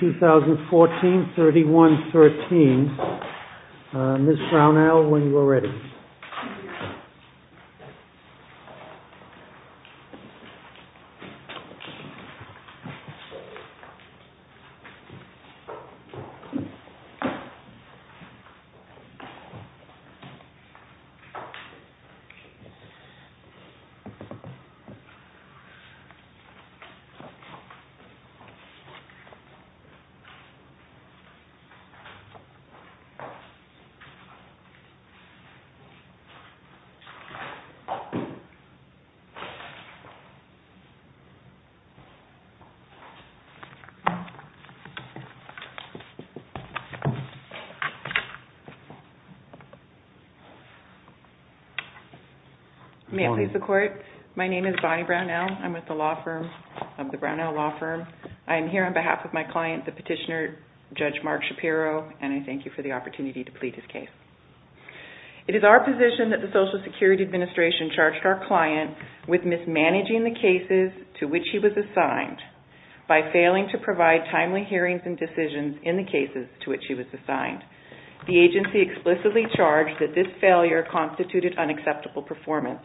2014, 31-13, Ms. Brownell, when you are ready. Thank you. Thank you. May it please the court. My name is Bonnie Brownell. I'm with the law firm of the Brownell Law Firm. I'm here on behalf of my client, the petitioner, Judge Mark Shapiro, and I am here to provide a summary of our position that the Social Security Administration charged our client with mismanaging the cases to which he was assigned by failing to provide timely hearings and decisions in the cases to which he was assigned. The agency explicitly charged that this failure constituted unacceptable performance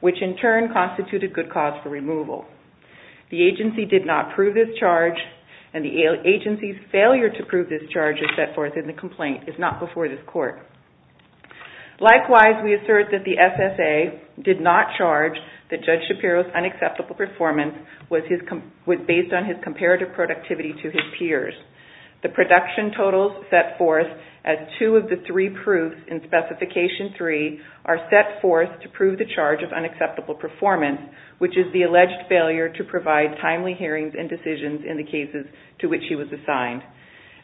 which in turn constituted good cause for removal. The agency did not prove this charge and the agency's failure to prove this charge is set forth in the complaint, if not before this court. Likewise, we assert that the SSA did not charge that Judge Shapiro's unacceptable performance was based on his comparative productivity to his peers. The production totals set forth as two of the three proofs in Specification 3 are set forth to prove the charge of unacceptable performance, which is the alleged failure to provide timely hearings and decisions in the cases to which he was assigned.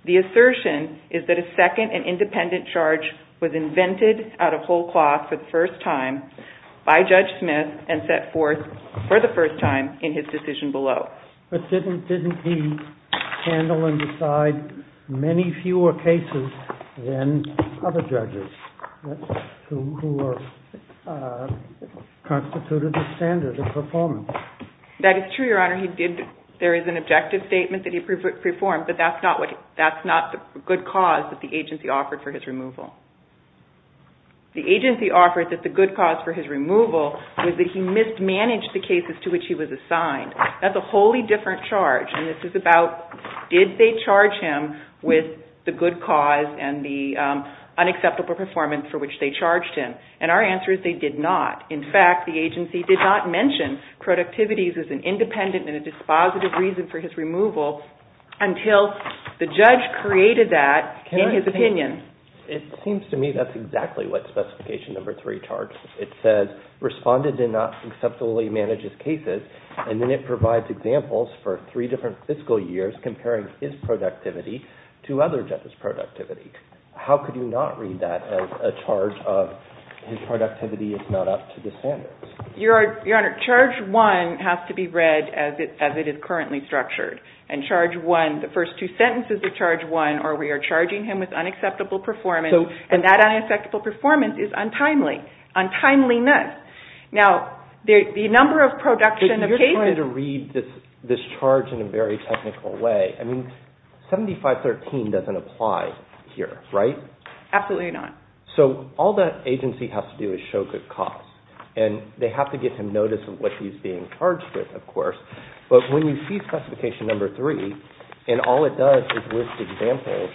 The assertion is that a second and independent charge was invented out of whole cloth for the first time by Judge Smith and set forth for the first time in his decision below. But didn't he handle and decide many fewer cases than other judges who constituted a standard of performance? That is true, Your Honor. There is an objective statement that he performed, but that is not the good cause that the agency offered for his removal. The agency offered that the good cause for his removal was that he mismanaged the cases to which he was assigned. That is a wholly different charge and this is about did they charge him with the good cause and the unacceptable performance for which they charged him. And our answer is they did not. In fact, the agency did not mention productivity as an independent and a dispositive reason for his removal until the judge created that in his opinion. It seems to me that is exactly what Specification 3 charts. It says responded and not acceptably manages cases and then it provides examples for three different fiscal years comparing his productivity to other judges' productivity. How could you not read that as a charge of his productivity is not up to the standards? Your Honor, charge 1 has to be read as it is currently structured. And charge 1, the first two sentences of charge 1 are we are charging him with unacceptable performance and that unacceptable performance is untimely, untimeliness. Now, the number of production of cases… But you are trying to read this charge in a very technical way. I mean, 7513 does not apply here, right? Absolutely not. So all that agency has to do is show good costs. And they have to give him notice of what he is being charged with, of course. But when you see Specification 3 and all it does is list examples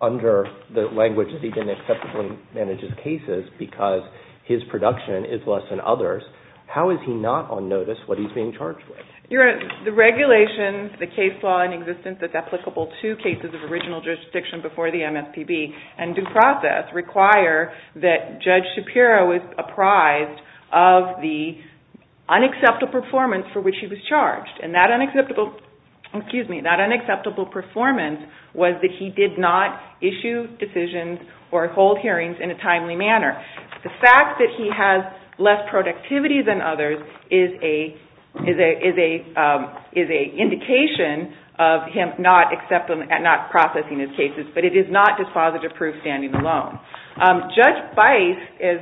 under the language that he did not acceptably manage his cases because his production is less than others, how is he not on notice what he is being charged with? Your Honor, the regulations, the case law in existence that is applicable to cases of original jurisdiction before the MSPB and the prosecution process require that Judge Shapiro is apprised of the unacceptable performance for which he was charged. And that unacceptable performance was that he did not issue decisions or hold hearings in a timely manner. The fact that he has less productivity than others is an indication of him not processing his cases. But it is not dispositive proof standing alone. Judge Bice, as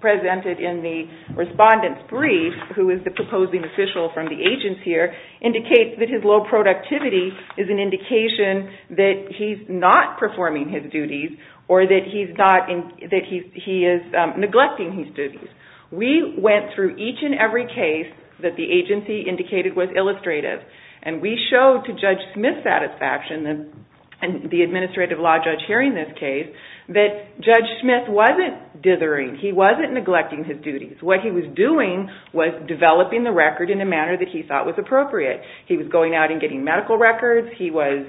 presented in the Respondent's Brief, who is the proposing official from the agency here, indicates that his low productivity is an indication that he is not performing his duties or that he is neglecting his duties. We went through each and every case that the agency indicated was illustrative. And we found that Judge Smith was not dithering. He was not neglecting his duties. What he was doing was developing the record in a manner that he thought was appropriate. He was going out and getting medical records. He was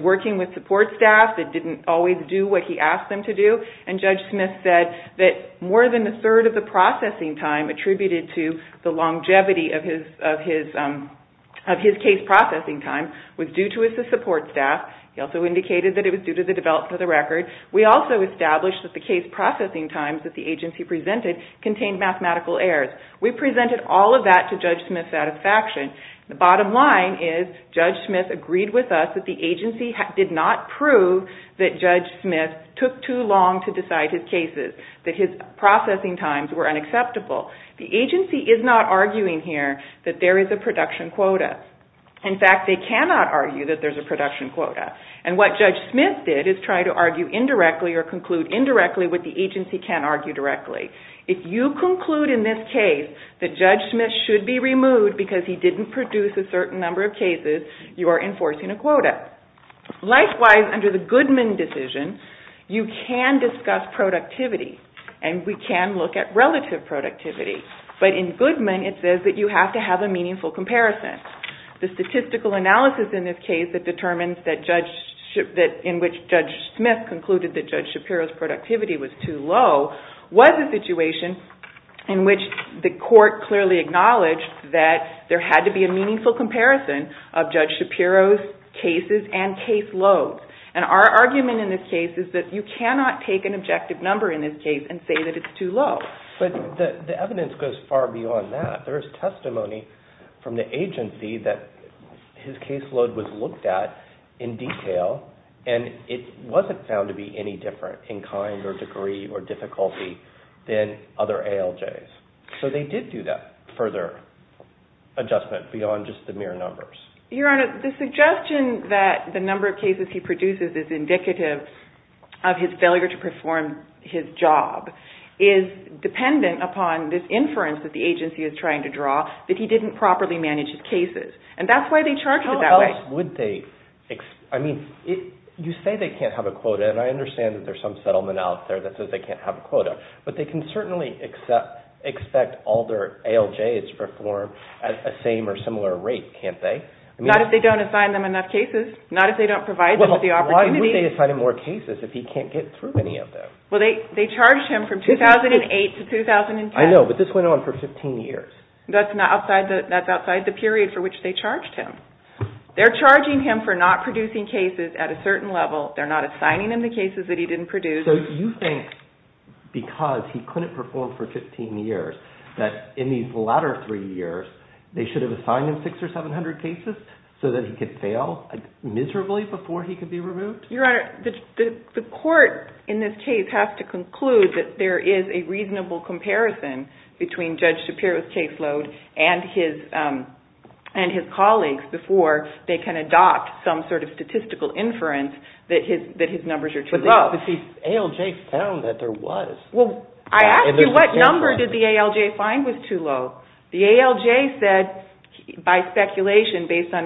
working with support staff that did not always do what he asked them to do. And Judge Smith said that more than a third of the processing time attributed to the longevity of his case processing time was due to his support staff. He also indicated that it was due to the development of the record. We also established that the case processing times that the agency presented contained mathematical errors. We presented all of that to Judge Smith's satisfaction. The bottom line is Judge Smith agreed with us that the agency did not prove that Judge Smith took too long to decide his cases, that his processing times were unacceptable. The agency is not arguing here that there is a production quota. And what Judge Smith did is try to argue indirectly or conclude indirectly what the agency can argue directly. If you conclude in this case that Judge Smith should be removed because he did not produce a certain number of cases, you are enforcing a quota. Likewise, under the Goodman decision, you can discuss productivity. And we can look at relative productivity. But in Goodman, it says that you have to have a meaningful comparison. The statistical analysis in this case that determines that in which Judge Smith concluded that Judge Shapiro's productivity was too low was a situation in which the court clearly acknowledged that there had to be a meaningful comparison of Judge Shapiro's cases and case loads. And our argument in this case is that you cannot take an objective number in this case and say that it's too low. But the evidence goes far beyond that. There is testimony from the agency that his case load was looked at in detail, and it wasn't found to be any different in kind or degree or difficulty than other ALJs. So they did do that further adjustment beyond just the mere numbers. Your Honor, the suggestion that the number of cases he produces is indicative of his dependent upon this inference that the agency is trying to draw that he didn't properly manage his cases. And that's why they charged it that way. How else would they? I mean, you say they can't have a quota, and I understand that there's some settlement out there that says they can't have a quota. But they can certainly expect all their ALJs to perform at a same or similar rate, can't they? Not if they don't assign them enough cases. Not if they don't provide them with the opportunity. Well, why would they assign him more cases if he can't get through any of them? Well, they charged him from 2008 to 2010. I know, but this went on for 15 years. That's outside the period for which they charged him. They're charging him for not producing cases at a certain level. They're not assigning him the cases that he didn't produce. So you think because he couldn't perform for 15 years that in these latter three years they should have assigned him 600 or 700 cases so that he could fail miserably before he could be removed? Your Honor, the court in this case has to conclude that there is a reasonable comparison between Judge Shapiro's caseload and his colleagues before they can adopt some sort of statistical inference that his numbers are too low. But the ALJ found that there was. Well, I asked you what number did the ALJ find was too low. The ALJ said by speculation based on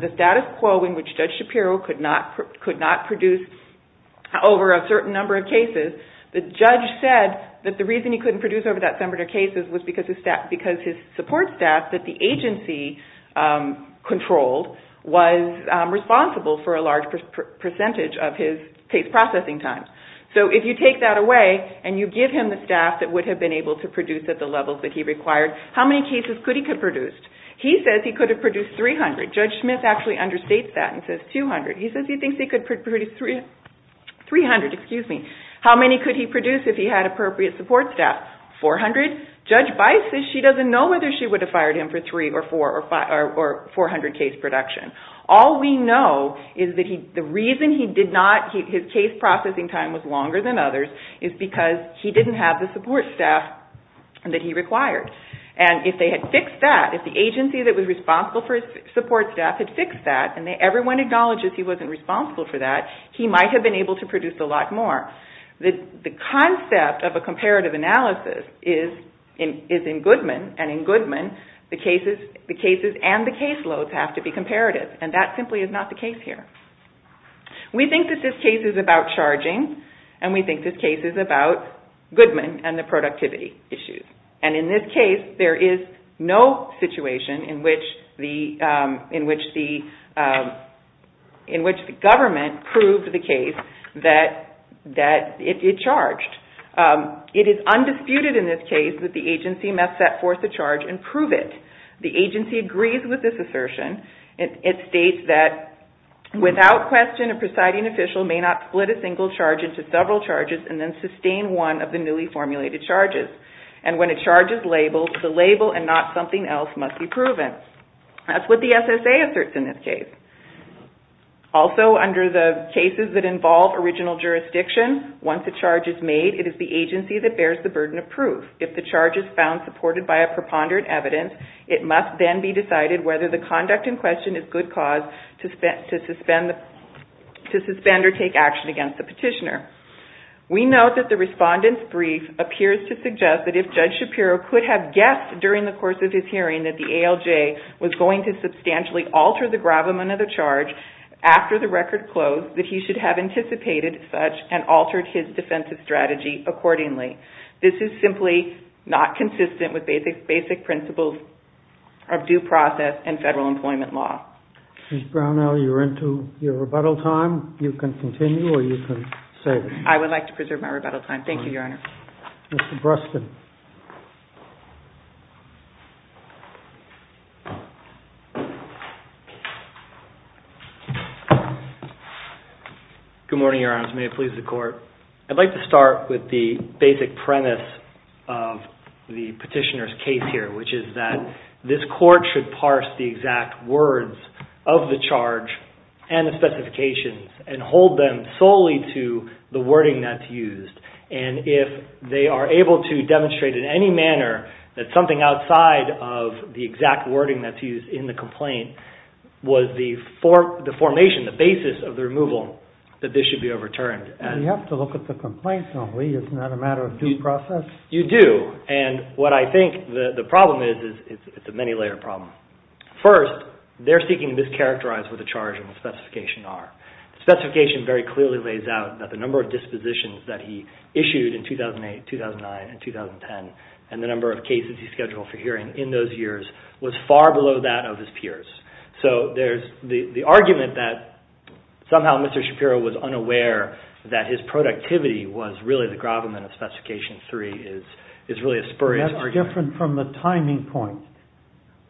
the status quo in which Judge Shapiro could not produce over a certain number of cases, the judge said that the reason he couldn't produce over that number of cases was because his support staff that the agency controlled was responsible for a large percentage of his case processing time. So if you take that away and you give him the staff that would have been able to produce at the levels that he required, how many cases could he have produced? He says he could have produced 300. Judge Smith actually understates that and says 200. He says he thinks he could produce 300. How many could he produce if he had appropriate support staff? 400. Judge Bice says she doesn't know whether she would have fired him for 300 or 400 case production. All we know is that the reason his case processing time was longer than others is because he didn't have the support staff that he required. And if they had fixed that, if the agency that was responsible for his support staff had fixed that and everyone acknowledges he wasn't responsible for that, he might have been able to produce a lot more. The concept of a comparative analysis is in Goodman and in Goodman the cases and the caseloads have to be comparative and that simply is not the case here. We think that this case is about charging and we think this case is about Goodman and the productivity issues and in this case there is no situation in which the government proved the case that it charged. It is undisputed in this case that the agency must set forth a charge and prove it. The agency agrees with this assertion. It states that without question a presiding official may not split a single charge into several charges and then sustain one of the newly formulated charges. And when a charge is labeled, the label and not something else must be proven. That's what the SSA asserts in this case. Also, under the cases that involve original jurisdiction, once a charge is made, it is the agency that bears the burden of proof. If the charge is found supported by a preponderant evidence, it must then be decided whether the conduct in question is good cause to suspend or take action against the petitioner. We note that the respondent's brief appears to suggest that if Judge Shapiro could have guessed during the course of his hearing that the ALJ was going to substantially alter the gravamen of the charge after the record closed, that he should have anticipated such and altered his defensive strategy accordingly. This is simply not consistent with basic principles of due process and federal employment law. Ms. Brownell, you're into your rebuttal time. You can continue or you can say it. I would like to preserve my rebuttal time. Thank you, Your Honor. Mr. Bruston. Good morning, Your Honors. May it please the Court. I'd like to start with the basic premise of the petitioner's case here, which is that this Court should parse the exact words of the charge and the specifications and hold them solely to the wording that's used. If they are able to demonstrate in any manner that something outside of the exact wording that's used in the complaint was the formation, the basis of the removal, that this should be overturned. You have to look at the complaints, don't we? Isn't that a matter of due process? You do. And what I think the problem is, it's a many-layer problem. First, they're seeking to mischaracterize what the charge and the specification are. The specification very clearly lays out that the number of dispositions that he issued in 2008, 2009, and 2010, and the number of cases he scheduled for hearing in those years was far below that of his peers. So there's the argument that somehow Mr. Shapiro was unaware that his productivity was really the gravamen of Specification 3 is really a spurring argument. That's different from the timing point,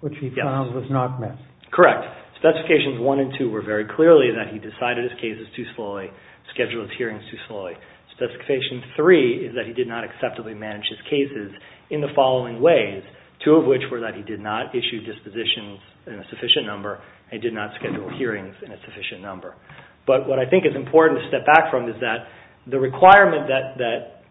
which he found was not met. Correct. Specifications 1 and 2 were very clearly that he decided his cases too slowly, scheduled his hearings too slowly. Specification 3 is that he did not acceptably manage his cases in the following ways, two of which were that he did not issue dispositions in a sufficient number, and he did not schedule hearings in a sufficient number. But what I think is important to step back from is that the requirement that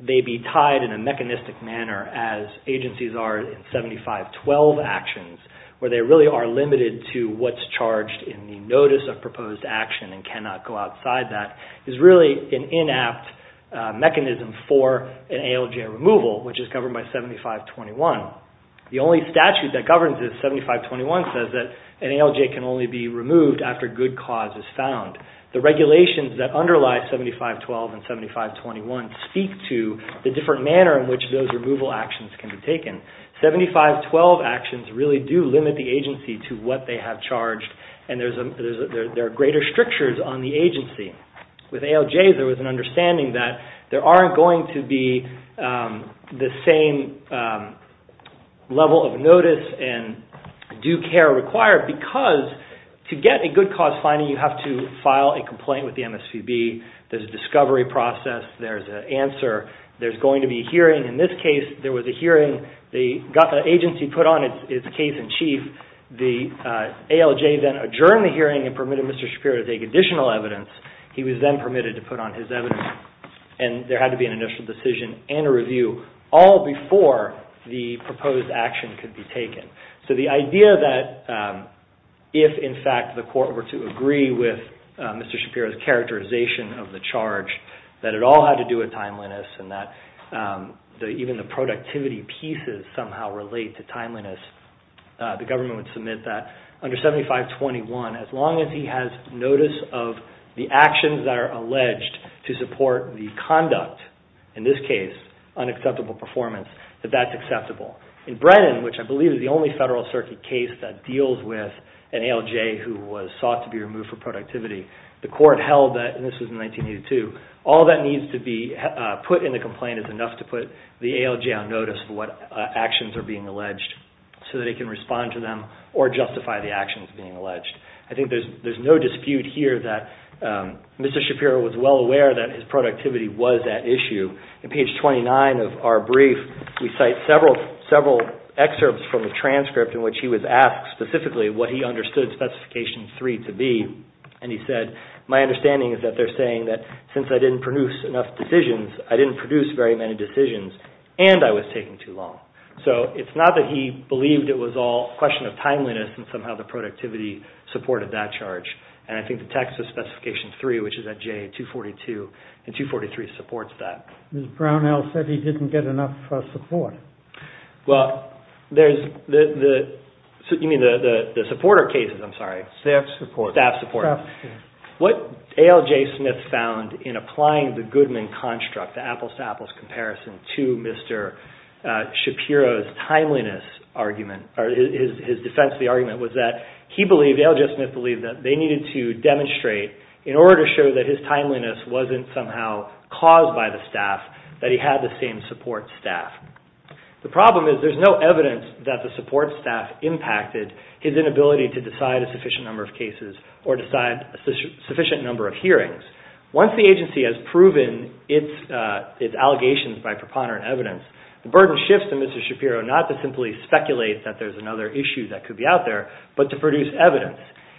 they be tied in a mechanistic manner, as agencies are in 7512 actions, where they really are limited to what's charged in the Notice of Proposed Action and cannot go outside that, is really an inapt mechanism for an ALJ removal, which is governed by 7521. The only statute that governs this, 7521, says that an ALJ can only be removed after good cause is found. The regulations that underlie 7512 and 7521 speak to the different manner in which those removal actions can be taken. 7512 actions really do limit the agency to what they have charged, and there are greater strictures on the agency. With ALJs, there was an understanding that there aren't going to be the same level of notice and due care required because to get a good cause finding, you have to file a complaint with the MSPB. There's a discovery process. There's an answer. There's going to be a hearing. In this case, there was a hearing. They got the agency put on its case in chief. The ALJ then adjourned the hearing and permitted Mr. Shapiro to take additional evidence. He was then permitted to put on his evidence. There had to be an initial decision and a review, all before the proposed action could be taken. The idea that if, in fact, the court were to agree with Mr. Shapiro's characterization of the charge, that it all had to do with timeliness and that even the productivity pieces somehow relate to timeliness. The government would submit that under 7521, as long as he has notice of the actions that are alleged to support the conduct, in this case, unacceptable performance, that that's acceptable. In Brennan, which I believe is the only federal circuit case that deals with an ALJ who was sought to be removed for productivity, the court held that, and this was in 1982, all that needs to be put in the complaint is enough to put the ALJ on notice of what actions are being alleged so that it can respond to them or justify the actions being alleged. I think there's no dispute here that Mr. Shapiro was well aware that his productivity was at issue. In page 29 of our brief, we cite several excerpts from the transcript in which he was asked specifically what he understood Specification 3 to be. And he said, my understanding is that they're saying that since I didn't produce enough decisions, I didn't produce very many decisions and I was taking too long. So it's not that he believed it was all a question of timeliness and somehow the productivity supported that charge. And I think the text of Specification 3, which is at J, 242 and 243 supports that. Mr. Brownell said he didn't get enough support. Well, there's the, you mean the supporter cases, I'm sorry. Staff support. Staff support. What ALJ Smith found in applying the Goodman construct, the apples to apples comparison to Mr. Shapiro's timeliness argument or his defense of the argument was that he believed, ALJ Smith believed that they needed to demonstrate in order to show that his timeliness wasn't somehow caused by the staff that he had the same support staff. The problem is there's no evidence that the support staff impacted his inability to decide a sufficient number of cases or decide a sufficient number of hearings. Once the agency has proven its allegations by preponderant evidence, the burden shifts to Mr. Shapiro not to simply speculate that there's another issue that could be out there, but to produce evidence.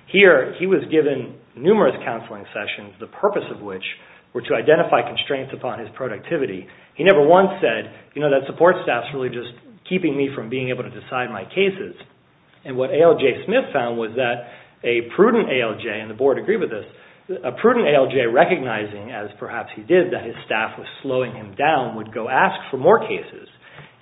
Here, he was given numerous counseling sessions, the purpose of which were to identify constraints upon his productivity. He never once said, you know, that support staff is really just keeping me from being able to decide my cases. And what ALJ Smith found was that a prudent ALJ, and the board agreed with this, a prudent ALJ recognizing as perhaps he did that his staff was slowing him down would go ask for more cases.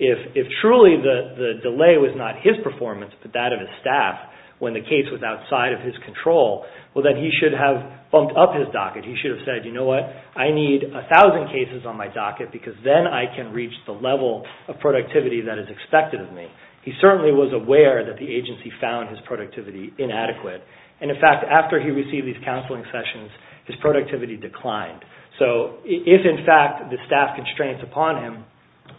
If truly the delay was not his performance but that of his staff when the case was outside of his control, well then he should have bumped up his docket. He should have said, you know what, I need 1,000 cases on my docket because then I can reach the level of productivity that is expected of me. He certainly was aware that the agency found his productivity inadequate. And in fact, after he received these counseling sessions, his productivity declined. So if in fact the staff constraints upon him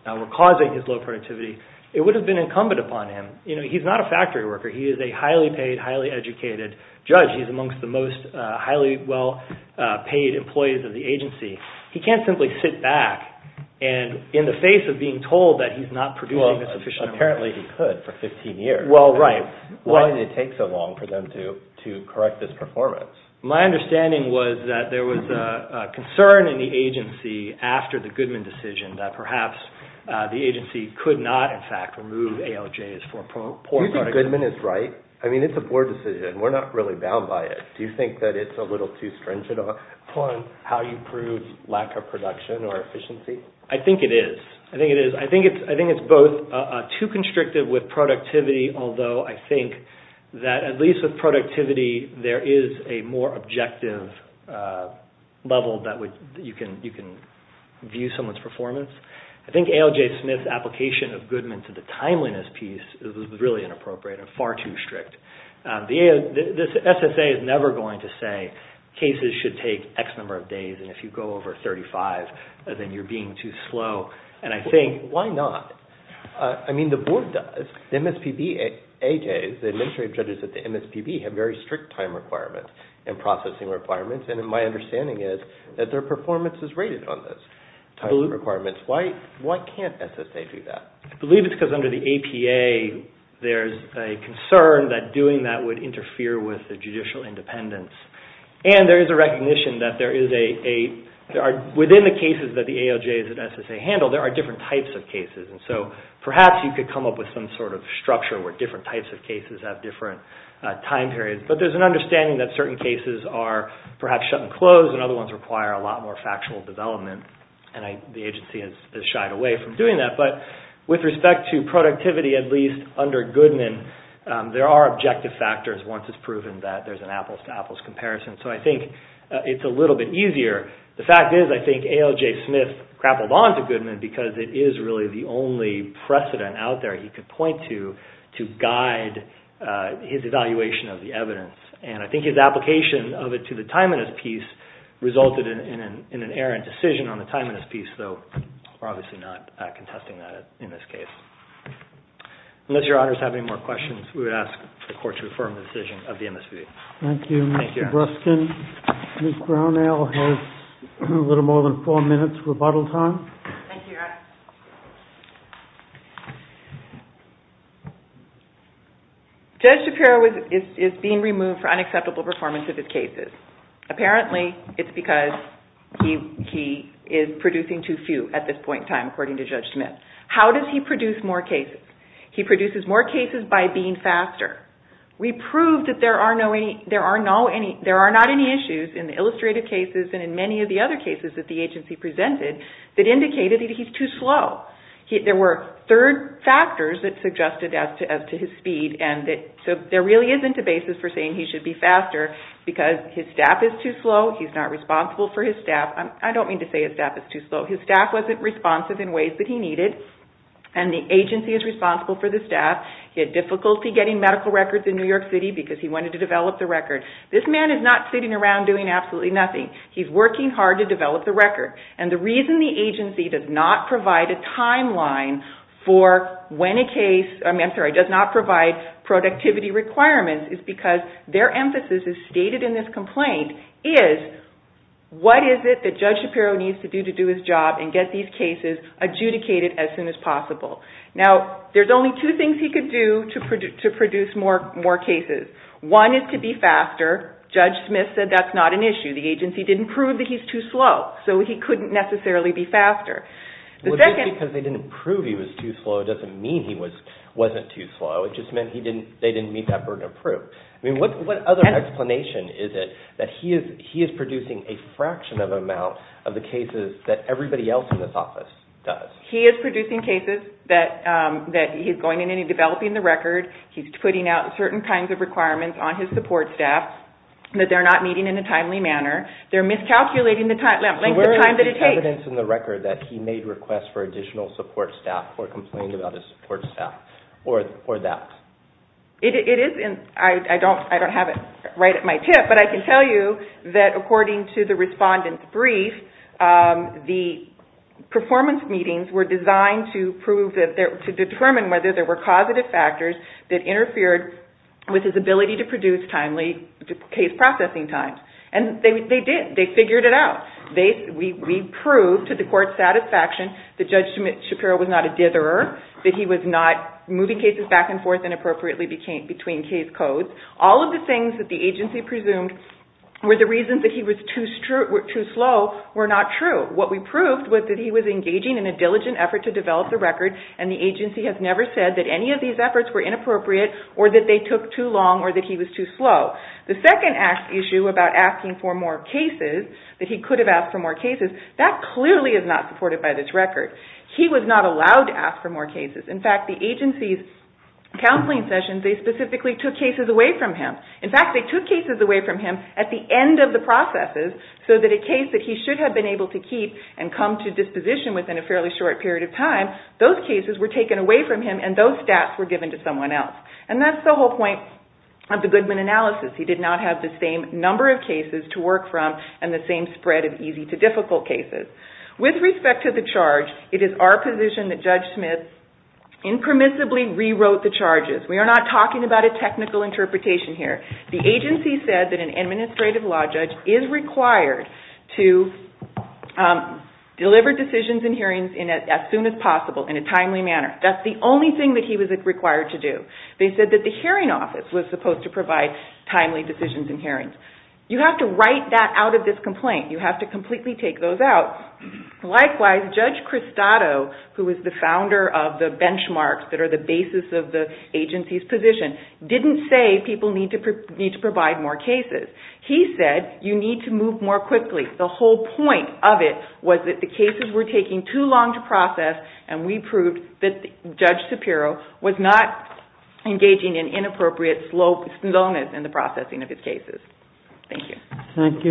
were causing his low productivity, it would have been incumbent upon him. You know, he's not a factory worker. He is a highly paid, highly educated judge. He's amongst the most highly well-paid employees of the agency. He can't simply sit back and in the face of being told that he's not producing a sufficient amount... Well, apparently he could for 15 years. Why did it take so long for them to correct this performance? My understanding was that there was a concern in the agency after the Goodman decision that perhaps the agency could not, in fact, remove ALJs for poor productivity. Do you think Goodman is right? I mean, it's a poor decision. We're not really bound by it. Do you think that it's a little too stringent on how you prove lack of production or efficiency? I think it is. I think it's both too constrictive with productivity, although I think that at least with productivity there is a more objective level that you can view someone's performance. I think ALJ Smith's application of Goodman to the timeliness piece is really inappropriate and far too strict. The SSA is never going to say cases should take X number of days and if you go over 35 then you're being too slow. Why not? The board does. The administrative judges at the MSPB have very strict time requirements and processing requirements and my understanding is that their performance is rated on those time requirements. Why can't SSA do that? I believe it's because under the APA there's a concern that doing that would interfere with the judicial independence and there is a recognition that within the cases that the ALJ and SSA handle there are different types of cases and so perhaps you could come up with some sort of structure where different types of cases have different time periods but there's an understanding that certain cases are perhaps shut and closed and other ones require a lot more factual development and the agency has shied away from doing that but with respect to productivity at least under Goodman there are objective factors once it's proven that there's an apples-to-apples comparison so I think it's a little bit easier. The fact is I think ALJ Smith grappled on to Goodman because it is really the only precedent out there he could point to to guide his evaluation of the evidence and I think his application of it to the timeliness piece resulted in an errant decision on the timeliness piece so we're obviously not contesting that in this case. Unless your honors have any more questions we would ask the court to affirm the decision of the MSPB. Thank you Mr. Breskin. Ms. Brownell has a little more than 4 minutes for rebuttal time. Judge Shapiro is being removed for unacceptable performance of his cases. Apparently it's because he is producing too few at this point in time according to Judge Smith. How does he produce more cases? He produces more cases by being faster. We proved that there are not any issues in the illustrative cases and in many of the other cases that the agency presented that indicated that he's too slow. There were third factors that suggested as to his speed so there really isn't a basis for saying he should be faster because his staff is too slow, he's not responsible for his staff I don't mean to say his staff is too slow his staff wasn't responsive in ways that he needed and the agency is responsible for the staff he had difficulty getting medical records in New York City because he wanted to develop the record. This man is not sitting around doing absolutely nothing he's working hard to develop the record and the reason the agency does not provide a timeline for when a case does not provide productivity requirements is because their emphasis is stated in this complaint is what is it that Judge Shapiro needs to do to do his job and get these cases adjudicated as soon as possible. There's only two things he could do to produce more cases one is to be faster, Judge Smith said that's not an issue the agency didn't prove that he's too slow so he couldn't necessarily be faster. Just because they didn't prove he was too slow doesn't mean he wasn't too slow it just meant they didn't meet that burden of proof what other explanation is it that he is producing a fraction of the amount of the cases that everybody else in this office does? He is producing cases that he's going in and developing the record he's putting out certain kinds of requirements on his support staff that they're not meeting in a timely manner they're miscalculating the length of time that it takes So where is the evidence in the record that he made requests for additional support staff or complained about his support staff or that? I don't have it right at my tip but I can tell you that according to the respondent's brief the performance meetings were designed to determine whether there were causative factors that interfered with his ability to produce timely case processing times and they did, they figured it out we proved to the court's satisfaction that Judge Shapiro was not a ditherer that he was not moving cases back and forth inappropriately between case codes all of the things that the agency presumed were the reasons that he was too slow were not true. What we proved was that he was engaging in a diligent effort to develop the record and the agency has never said that any of these efforts were inappropriate or that they took too long or that he was too slow The second issue about asking for more cases that he could have asked for more cases that clearly is not supported by this record he was not allowed to ask for more cases in fact the agency's counseling sessions they specifically took cases away from him at the end of the processes so that a case that he should have been able to keep and come to disposition within a fairly short period of time those cases were taken away from him and those stats were given to someone else and that's the whole point of the Goodman analysis he did not have the same number of cases to work from and the same spread of easy to difficult cases with respect to the charge, it is our position that Judge Smith impermissibly rewrote the charges we are not talking about a technical interpretation here to deliver decisions and hearings as soon as possible, in a timely manner that's the only thing that he was required to do they said that the hearing office was supposed to provide timely decisions and hearings you have to write that out of this complaint you have to completely take those out likewise, Judge Cristado, who is the founder of the benchmarks that are the basis of the agency's position didn't say people need to provide more cases he said you need to move more quickly the whole point of it was that the cases were taking too long to process and we proved that Judge Shapiro was not engaging in inappropriate slowness in the processing of his cases thank you